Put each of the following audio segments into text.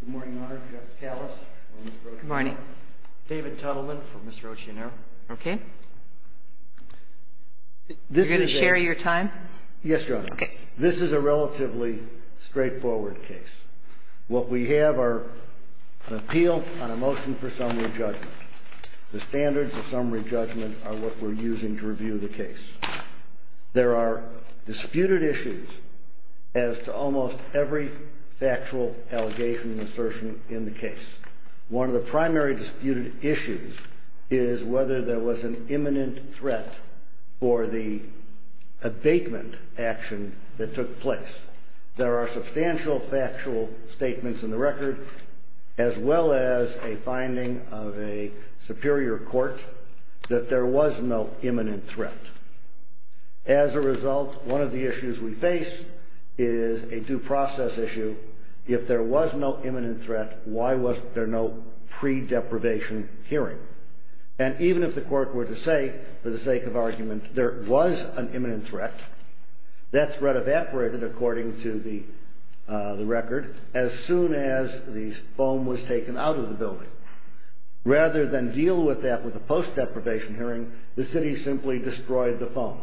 Good morning, Your Honor. Jeff Callis, Mr. Occhionero. Good morning. David Tuttleman, for Mr. Occhionero. Okay. You're going to share your time? Yes, Your Honor. Okay. This is a relatively straightforward case. What we have are an appeal on a motion for summary judgment. The standards of summary judgment are what we're using to review the case. There are disputed issues as to almost every factual allegation and assertion in the case. One of the primary disputed issues is whether there was an imminent threat for the abatement action that took place. There are substantial factual statements in the record as well as a finding of a superior court that there was no imminent threat. As a result, one of the issues we face is a due process issue. If there was no imminent threat, why wasn't there no pre-deprivation hearing? And even if the court were to say, for the sake of argument, there was an imminent threat, that threat evaporated according to the record as soon as the foam was taken out of the building. Rather than deal with that with a post-deprivation hearing, the city simply destroyed the foam.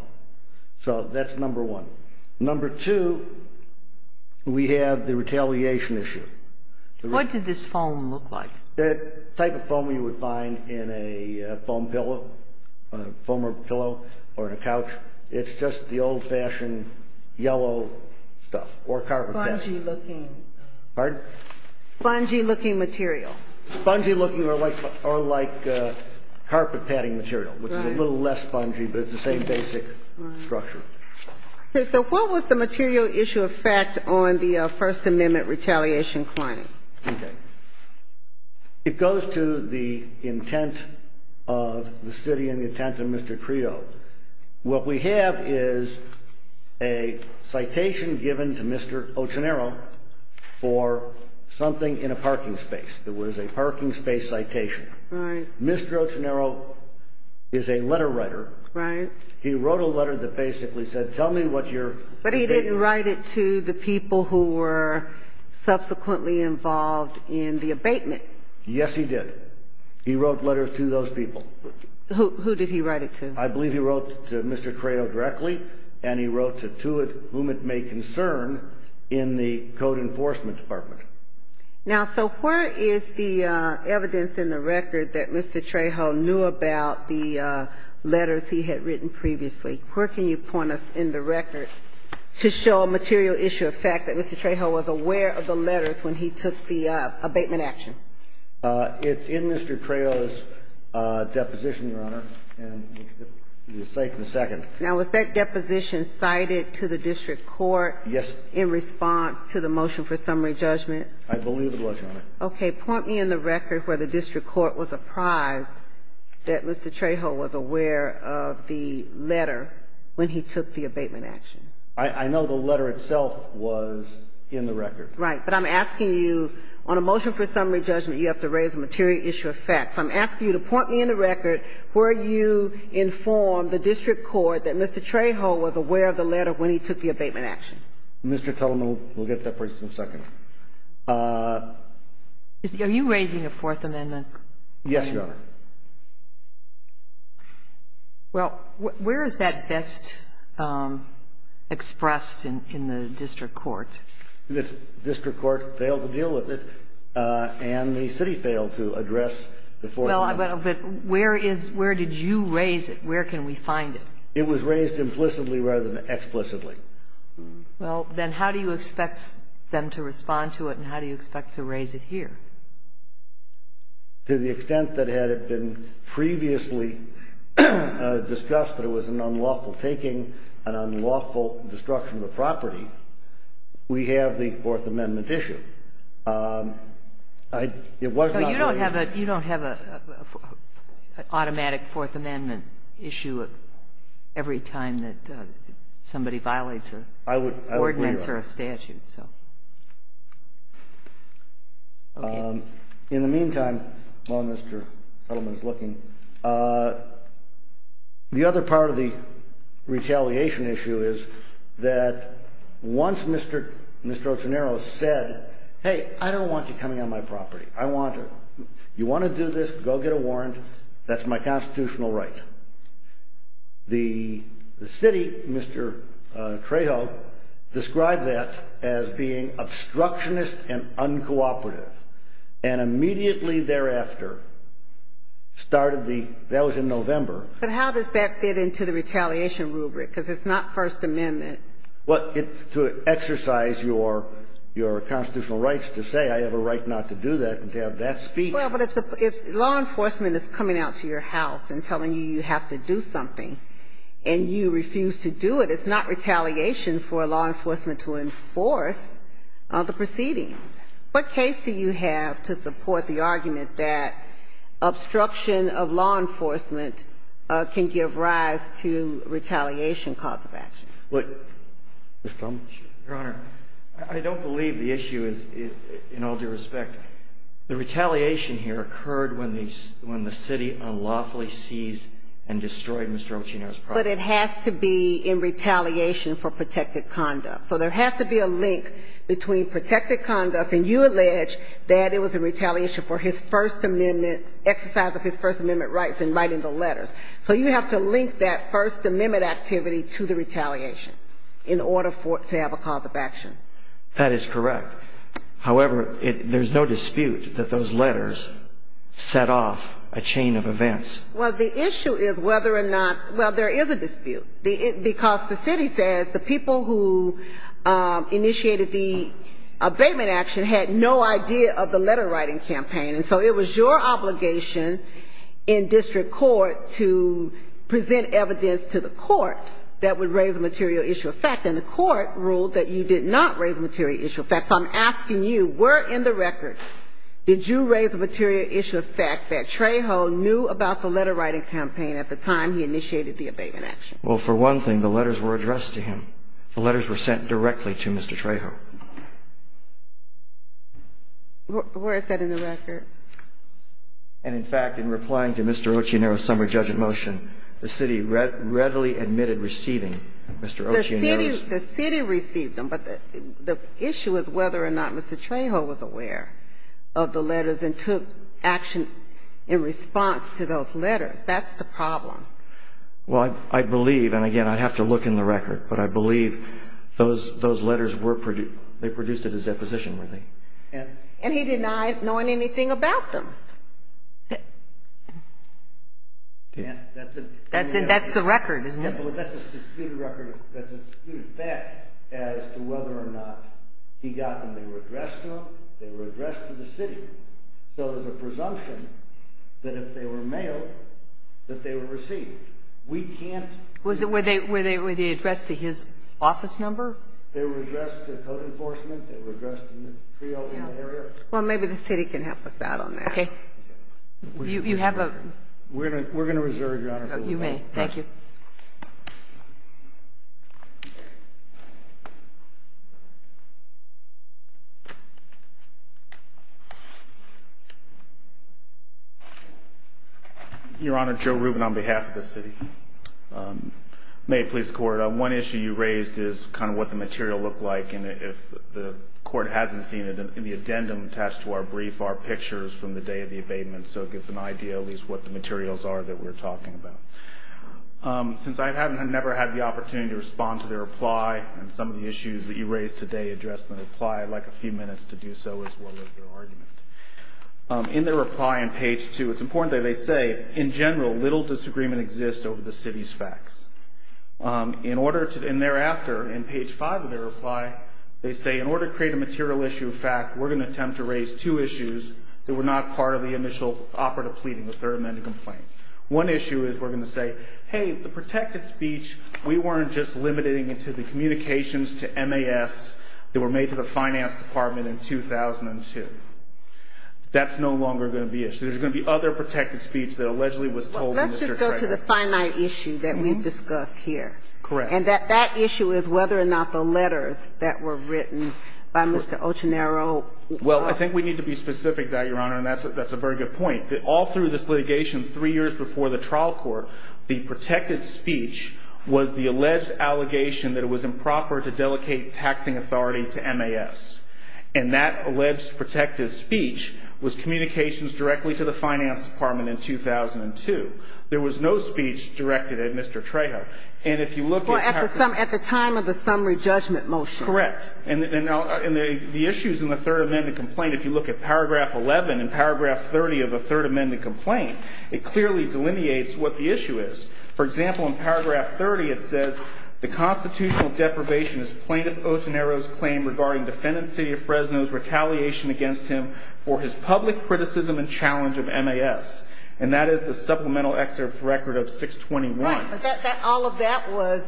So that's number one. Number two, we have the retaliation issue. What did this foam look like? That type of foam you would find in a foam pillow, a foamer pillow or in a couch. It's just the old-fashioned yellow stuff or carpet padding. Spongy-looking. Pardon? Spongy-looking material. Spongy-looking or like carpet padding material, which is a little less spongy, but it's the same basic structure. Okay. So what was the material issue of fact on the First Amendment retaliation claim? Okay. It goes to the intent of the city and the intent of Mr. Creo. What we have is a citation given to Mr. Ochenaro for something in a parking space. It was a parking space citation. Right. Mr. Ochenaro is a letter writer. Right. He wrote a letter that basically said, tell me what you're taking. But he didn't write it to the people who were subsequently involved in the abatement. Yes, he did. He wrote letters to those people. Who did he write it to? I believe he wrote to Mr. Creo directly, and he wrote to whom it may concern in the Code Enforcement Department. Now, so where is the evidence in the record that Mr. Trejo knew about the letters he had written previously? Where can you point us in the record to show a material issue of fact that Mr. Trejo was aware of the letters when he took the abatement action? It's in Mr. Trejo's deposition, Your Honor, and you'll see it in a second. Now, was that deposition cited to the district court in response to the motion for summary judgment? Okay. Point me in the record where the district court was apprised that Mr. Trejo was aware of the letter when he took the abatement action. I know the letter itself was in the record. Right. But I'm asking you, on a motion for summary judgment, you have to raise a material issue of fact. So I'm asking you to point me in the record where you informed the district court that Mr. Trejo was aware of the letter when he took the abatement action. Mr. Tuttleman will get to that point in a second. Are you raising a Fourth Amendment? Yes, Your Honor. Well, where is that best expressed in the district court? The district court failed to deal with it, and the city failed to address the Fourth Amendment. Well, but where is – where did you raise it? Where can we find it? It was raised implicitly rather than explicitly. Well, then how do you expect them to respond to it, and how do you expect to raise it here? To the extent that had it been previously discussed that it was an unlawful taking, an unlawful destruction of the property, we have the Fourth Amendment issue. It was not raised. No, you don't have a – you don't have an automatic Fourth Amendment issue every time that somebody violates a ordinance or a statute, so. I would – I would agree with that. Okay. In the meantime, while Mr. Tuttleman is looking, the other part of the retaliation issue is that once Mr. Otenaro said, hey, I don't want you coming on my property. I want to – you want to do this? Go get a warrant. That's my constitutional right. The city, Mr. Trejo, described that as being obstructionist and uncooperative, and immediately thereafter started the – that was in November. But how does that fit into the retaliation rubric? Because it's not First Amendment. Well, to exercise your constitutional rights to say I have a right not to do that and to have that speech. Well, but if law enforcement is coming out to your house and telling you you have to do something and you refuse to do it, it's not retaliation for law enforcement to enforce the proceedings. What case do you have to support the argument that obstruction of law enforcement can give rise to retaliation cause of action? Well, Your Honor, I don't believe the issue is in all due respect. The retaliation here occurred when the city unlawfully seized and destroyed Mr. Otenaro's property. But it has to be in retaliation for protected conduct. So there has to be a link between protected conduct and you allege that it was in retaliation for his First Amendment – exercise of his First Amendment rights in writing the letters. So you have to link that First Amendment activity to the retaliation in order for it to have a cause of action. That is correct. However, there's no dispute that those letters set off a chain of events. Well, the issue is whether or not – well, there is a dispute. Because the city says the people who initiated the abatement action had no idea of the letter-writing campaign. And so it was your obligation in district court to present evidence to the court that would raise a material issue of fact. And the court ruled that you did not raise a material issue of fact. So I'm asking you, were in the record, did you raise a material issue of fact that Trejo knew about the letter-writing campaign at the time he initiated the abatement action? Well, for one thing, the letters were addressed to him. The letters were sent directly to Mr. Trejo. Where is that in the record? And, in fact, in replying to Mr. Ocinero's summary judge of motion, the city readily admitted receiving Mr. Ocinero's – The city received them, but the issue is whether or not Mr. Trejo was aware of the letters and took action in response to those letters. That's the problem. Well, I believe – and, again, I'd have to look in the record – but I believe those letters were – they produced at his deposition, weren't they? And he denied knowing anything about them. That's the record, isn't it? That's a disputed record. That's a disputed fact as to whether or not he got them. They were addressed to him. They were addressed to the city. So there's a presumption that if they were mailed, that they were received. We can't – Was it – were they addressed to his office number? They were addressed to code enforcement. They were addressed to Mr. Trejo in that area. Well, maybe the city can help us out on that. Okay. You have a – We're going to reserve, Your Honor. You may. Thank you. Your Honor, Joe Rubin on behalf of the city. May it please the Court, one issue you raised is kind of what the material looked like. And if the Court hasn't seen it, the addendum attached to our brief are pictures from the day of the abatement, so it gives an idea at least what the materials are that we're talking about. Since I've never had the opportunity to respond to their reply, and some of the issues that you raised today address the reply, I'd like a few minutes to do so as well as their argument. In their reply on page 2, it's important that they say, in general, little disagreement exists over the city's facts. In order to – and thereafter, in page 5 of their reply, they say, in order to create a material issue of fact, we're going to attempt to raise two issues that were not part of the initial operative pleading, the third amended complaint. One issue is we're going to say, hey, the protected speech, we weren't just limiting it to the communications to MAS that were made to the finance department in 2002. That's no longer going to be an issue. There's going to be other protected speech that allegedly was told to Mr. Craig. Let's just go to the finite issue that we've discussed here. Correct. And that that issue is whether or not the letters that were written by Mr. Ochenaro Well, I think we need to be specific about that, Your Honor, and that's a very good point. All through this litigation, three years before the trial court, the protected speech was the alleged allegation that it was improper to delegate taxing authority to MAS. And that alleged protected speech was communications directly to the finance department in 2002. There was no speech directed at Mr. Trejo. And if you look at – Well, at the time of the summary judgment motion. Correct. And the issues in the Third Amendment complaint, if you look at Paragraph 11 and Paragraph 30 of the Third Amendment complaint, it clearly delineates what the issue is. For example, in Paragraph 30, it says, the constitutional deprivation is Plaintiff Ochenaro's claim regarding defendant, City of Fresno's retaliation against him for his public criticism and challenge of MAS. And that is the supplemental excerpt record of 621. Right. But all of that was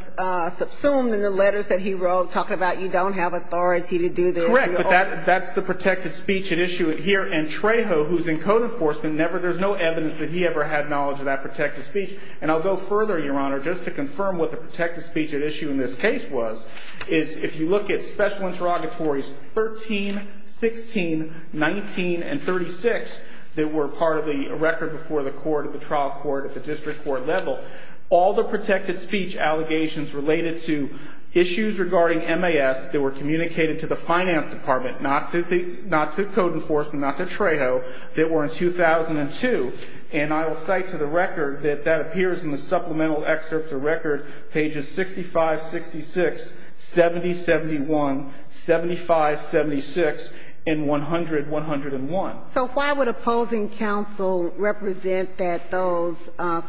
subsumed in the letters that he wrote talking about you don't have authority to do this. Correct. But that's the protected speech at issue here. And Trejo, who's in code enforcement, there's no evidence that he ever had knowledge of that protected speech. And I'll go further, Your Honor, just to confirm what the protected speech at issue in this case was, is if you look at Special Interrogatories 13, 16, 19, and 36, that were part of the record before the court at the trial court at the district court level, all the protected speech allegations related to issues regarding MAS that were communicated to the finance department, not to code enforcement, not to Trejo, that were in 2002. And I will cite to the record that that appears in the supplemental excerpt of record, pages 65, 66, 70, 71, 75, 76, and 100, 101. So why would opposing counsel represent that those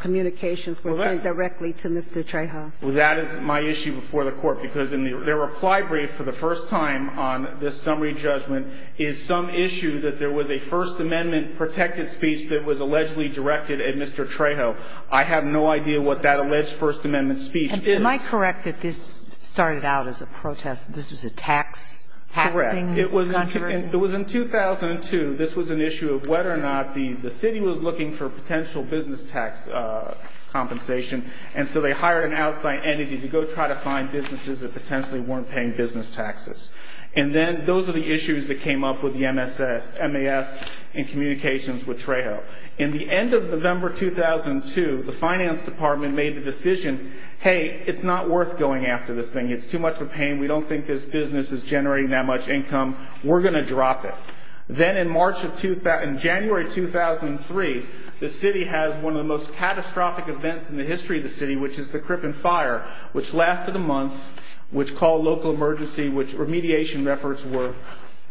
communications were sent directly to Mr. Trejo? Well, that is my issue before the court. Because in their reply brief for the first time on this summary judgment is some issue that there was a First Amendment protected speech that was allegedly directed at Mr. Trejo. I have no idea what that alleged First Amendment speech is. Am I correct that this started out as a protest, this was a tax? Correct. Taxing controversy? Well, it was in 2002. This was an issue of whether or not the city was looking for potential business tax compensation, and so they hired an outside entity to go try to find businesses that potentially weren't paying business taxes. And then those are the issues that came up with the MAS in communications with Trejo. In the end of November 2002, the finance department made the decision, hey, it's not worth going after this thing. It's too much of a pain. We don't think this business is generating that much income. We're going to drop it. Then in January 2003, the city has one of the most catastrophic events in the history of the city, which is the Crippen fire, which lasted a month, which called local emergency, which remediation efforts were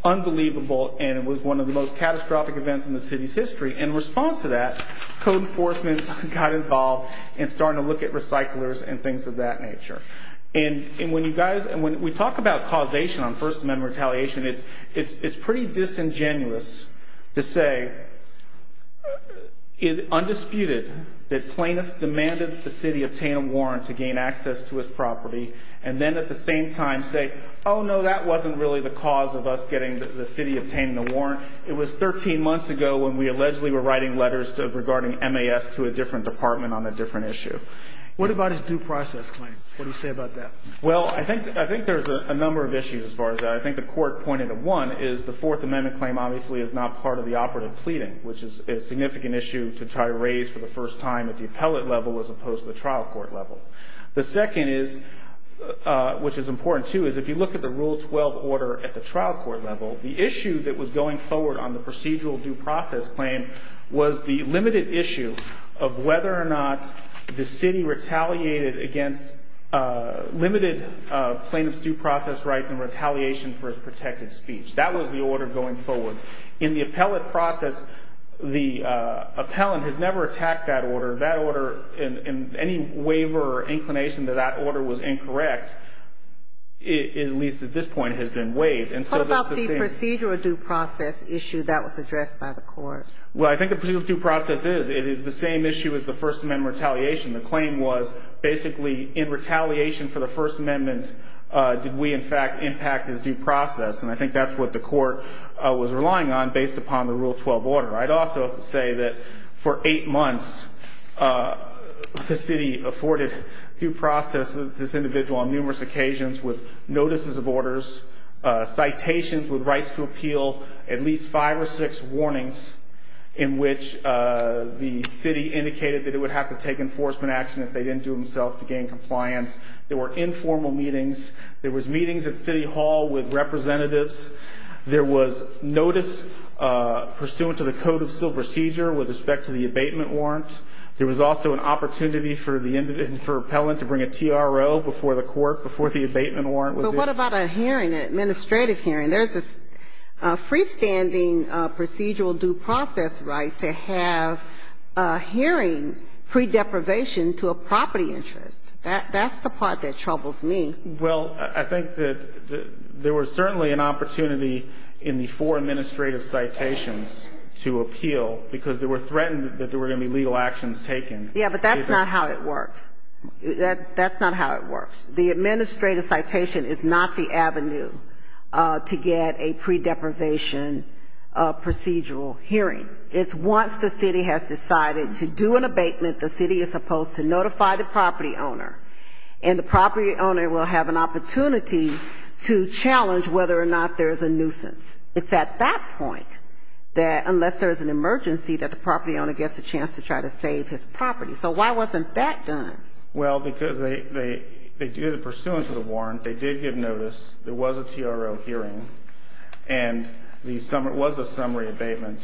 unbelievable, and it was one of the most catastrophic events in the city's history. In response to that, code enforcement got involved and started to look at recyclers and things of that nature. And when we talk about causation on First Amendment retaliation, it's pretty disingenuous to say undisputed that plaintiffs demanded the city obtain a warrant to gain access to his property and then at the same time say, oh, no, that wasn't really the cause of us getting the city obtaining the warrant. It was 13 months ago when we allegedly were writing letters regarding MAS to a different department on a different issue. What about his due process claim? What do you say about that? Well, I think there's a number of issues as far as that. I think the court pointed to one is the Fourth Amendment claim obviously is not part of the operative pleading, which is a significant issue to try to raise for the first time at the appellate level as opposed to the trial court level. The second is, which is important, too, is if you look at the Rule 12 order at the trial court level, the issue that was going forward on the procedural due process claim was the limited issue of whether or not the city retaliated against limited plaintiff's due process rights and retaliation for his protected speech. That was the order going forward. In the appellate process, the appellant has never attacked that order, and any waiver or inclination that that order was incorrect, at least at this point, has been waived. What about the procedural due process issue that was addressed by the court? Well, I think the procedural due process is. It is the same issue as the First Amendment retaliation. The claim was basically in retaliation for the First Amendment did we in fact impact his due process, and I think that's what the court was relying on based upon the Rule 12 order. I'd also say that for eight months the city afforded due process to this individual on numerous occasions with notices of orders, citations with rights to appeal, at least five or six warnings in which the city indicated that it would have to take enforcement action if they didn't do it themselves to gain compliance. There were informal meetings. There was meetings at City Hall with representatives. There was notice pursuant to the Code of Civil Procedure with respect to the abatement warrant. There was also an opportunity for the individual, for appellant to bring a TRO before the court, before the abatement warrant was issued. But what about a hearing, an administrative hearing? There's a freestanding procedural due process right to have a hearing pre-deprivation to a property interest. That's the part that troubles me. Well, I think that there was certainly an opportunity in the four administrative citations to appeal because they were threatened that there were going to be legal actions taken. Yeah, but that's not how it works. That's not how it works. The administrative citation is not the avenue to get a pre-deprivation procedural hearing. It's once the city has decided to do an abatement, the city is supposed to notify the property owner, and the property owner will have an opportunity to challenge whether or not there is a nuisance. It's at that point that, unless there is an emergency, that the property owner gets a chance to try to save his property. So why wasn't that done? Well, because they did it pursuant to the warrant. They did give notice. There was a TRO hearing, and there was a summary abatement.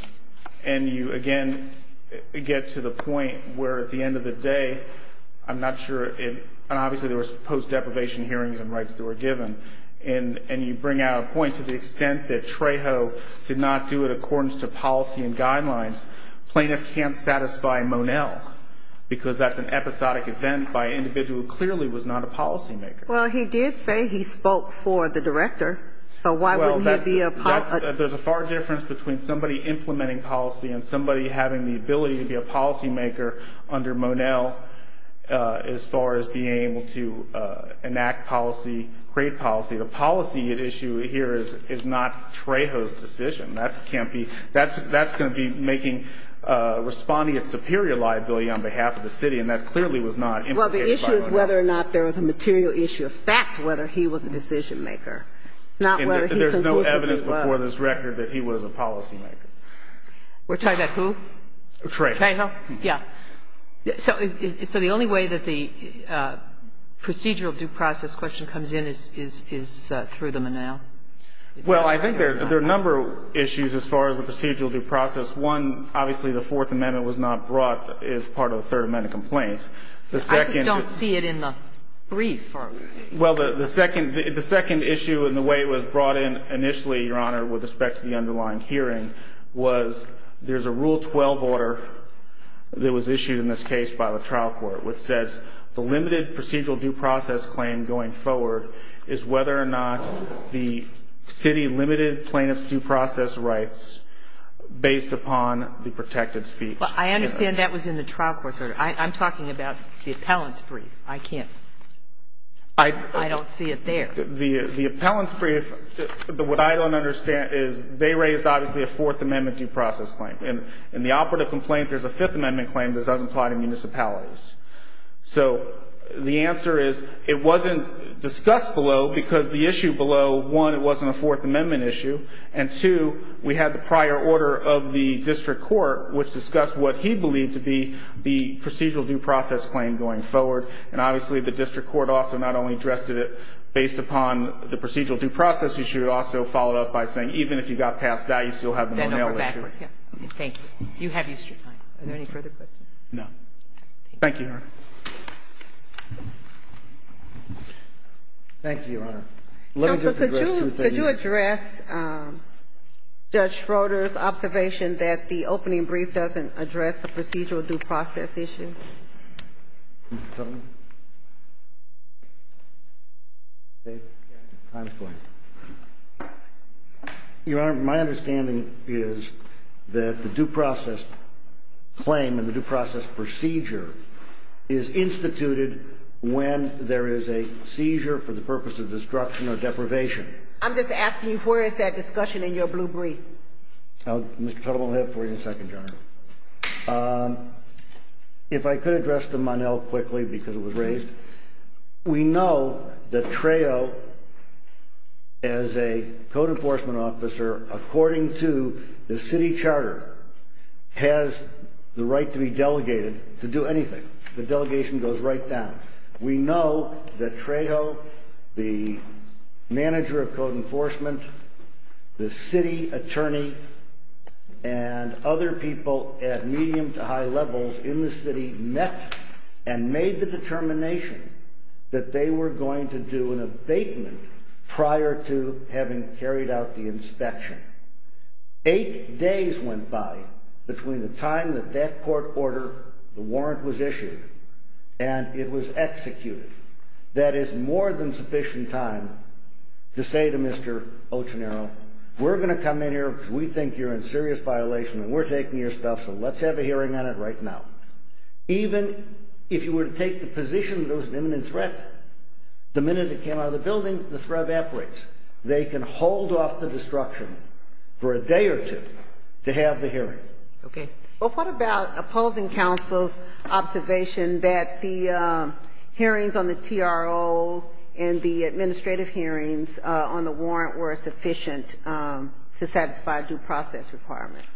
And you, again, get to the point where at the end of the day, I'm not sure, and obviously there was post-deprivation hearings and rights that were given, and you bring out a point to the extent that Trejo did not do it according to policy and guidelines, plaintiff can't satisfy Monel because that's an episodic event by an individual who clearly was not a policymaker. Well, he did say he spoke for the director, so why wouldn't he be a policymaker? There's a far difference between somebody implementing policy and somebody having the ability to be a policymaker under Monel as far as being able to enact policy, create policy. The policy at issue here is not Trejo's decision. That can't be – that's going to be making – responding at superior liability on behalf of the city, and that clearly was not implicated by Monel. Well, the issue is whether or not there was a material issue of fact, whether he was a decisionmaker. It's not whether he conclusively was. And there's no evidence before this record that he was a policymaker. We're talking about who? Trejo. Trejo, yeah. So the only way that the procedural due process question comes in is through the Monel? Well, I think there are a number of issues as far as the procedural due process. One, obviously, the Fourth Amendment was not brought as part of the Third Amendment complaints. I just don't see it in the brief. Well, the second issue and the way it was brought in initially, Your Honor, with respect to the underlying hearing was there's a Rule 12 order that was issued in this case by the trial court which says the limited procedural due process claim going forward is whether or not the city limited plaintiff's due process rights based upon the protected speech. Well, I understand that was in the trial court's order. I'm talking about the appellant's brief. I can't – I don't see it there. The appellant's brief, what I don't understand is they raised, obviously, a Fourth Amendment due process claim. In the operative complaint, there's a Fifth Amendment claim that doesn't apply to municipalities. So the answer is it wasn't discussed below because the issue below, one, it wasn't a Fourth Amendment issue, and, two, we had the prior order of the district court which discussed what he believed to be the procedural due process claim going forward. And obviously, the district court also not only addressed it based upon the procedural due process issue, it also followed up by saying even if you got past that, you still have the Monell issue. Thank you. You have used your time. Are there any further questions? No. Thank you, Your Honor. Thank you, Your Honor. Counsel, could you address Judge Schroeder's observation that the opening brief doesn't address the procedural due process issue? Mr. Tuttle? Time's going. Your Honor, my understanding is that the due process claim and the due process procedure is instituted when there is a seizure for the purpose of destruction or deprivation. I'm just asking you, where is that discussion in your blue brief? Mr. Tuttle, I'll have it for you in a second, Your Honor. If I could address the Monell quickly because it was raised. We know that Trejo, as a code enforcement officer, according to the city charter, has the right to be delegated to do anything. The delegation goes right down. We know that Trejo, the manager of code enforcement, the city attorney, and other people at medium to high levels in the city, met and made the determination that they were going to do an abatement prior to having carried out the inspection. Eight days went by between the time that that court order, the warrant was issued, and it was executed. That is more than sufficient time to say to Mr. Ochinero, we're going to come in here because we think you're in serious violation and we're taking your stuff, so let's have a hearing on it right now. Even if you were to take the position that it was an imminent threat, the minute it came out of the building, the threat evaporates. They can hold off the destruction for a day or two to have the hearing. Okay. Well, what about opposing counsel's observation that the hearings on the TRO and the administrative hearings on the warrant were sufficient to satisfy due process requirements?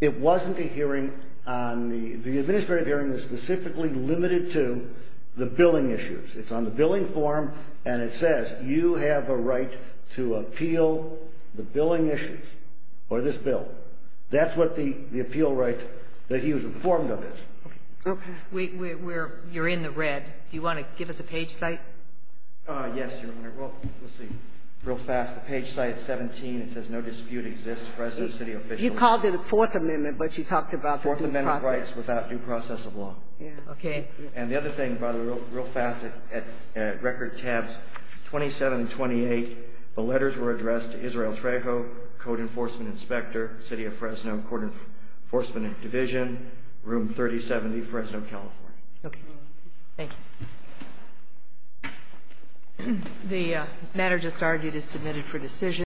It wasn't a hearing on the – the administrative hearing was specifically limited to the billing issues. It's on the billing form, and it says you have a right to appeal the billing issues or this bill. That's what the appeal right that he was informed of is. Okay. We're – you're in the red. Do you want to give us a page cite? Yes, Your Honor. Well, let's see. Real fast, the page cite is 17. It says no dispute exists for resident city officials. You called it a Fourth Amendment, but you talked about the due process. Fourth Amendment rights without due process of law. Yeah. Okay. And the other thing, by the way, real fast at record tabs, 27 and 28, the letters were addressed to Israel Trejo, Code Enforcement Inspector, City of Fresno Court Enforcement Division, Room 3070, Fresno, California. Okay. Thank you. The matter just argued is submitted for decision.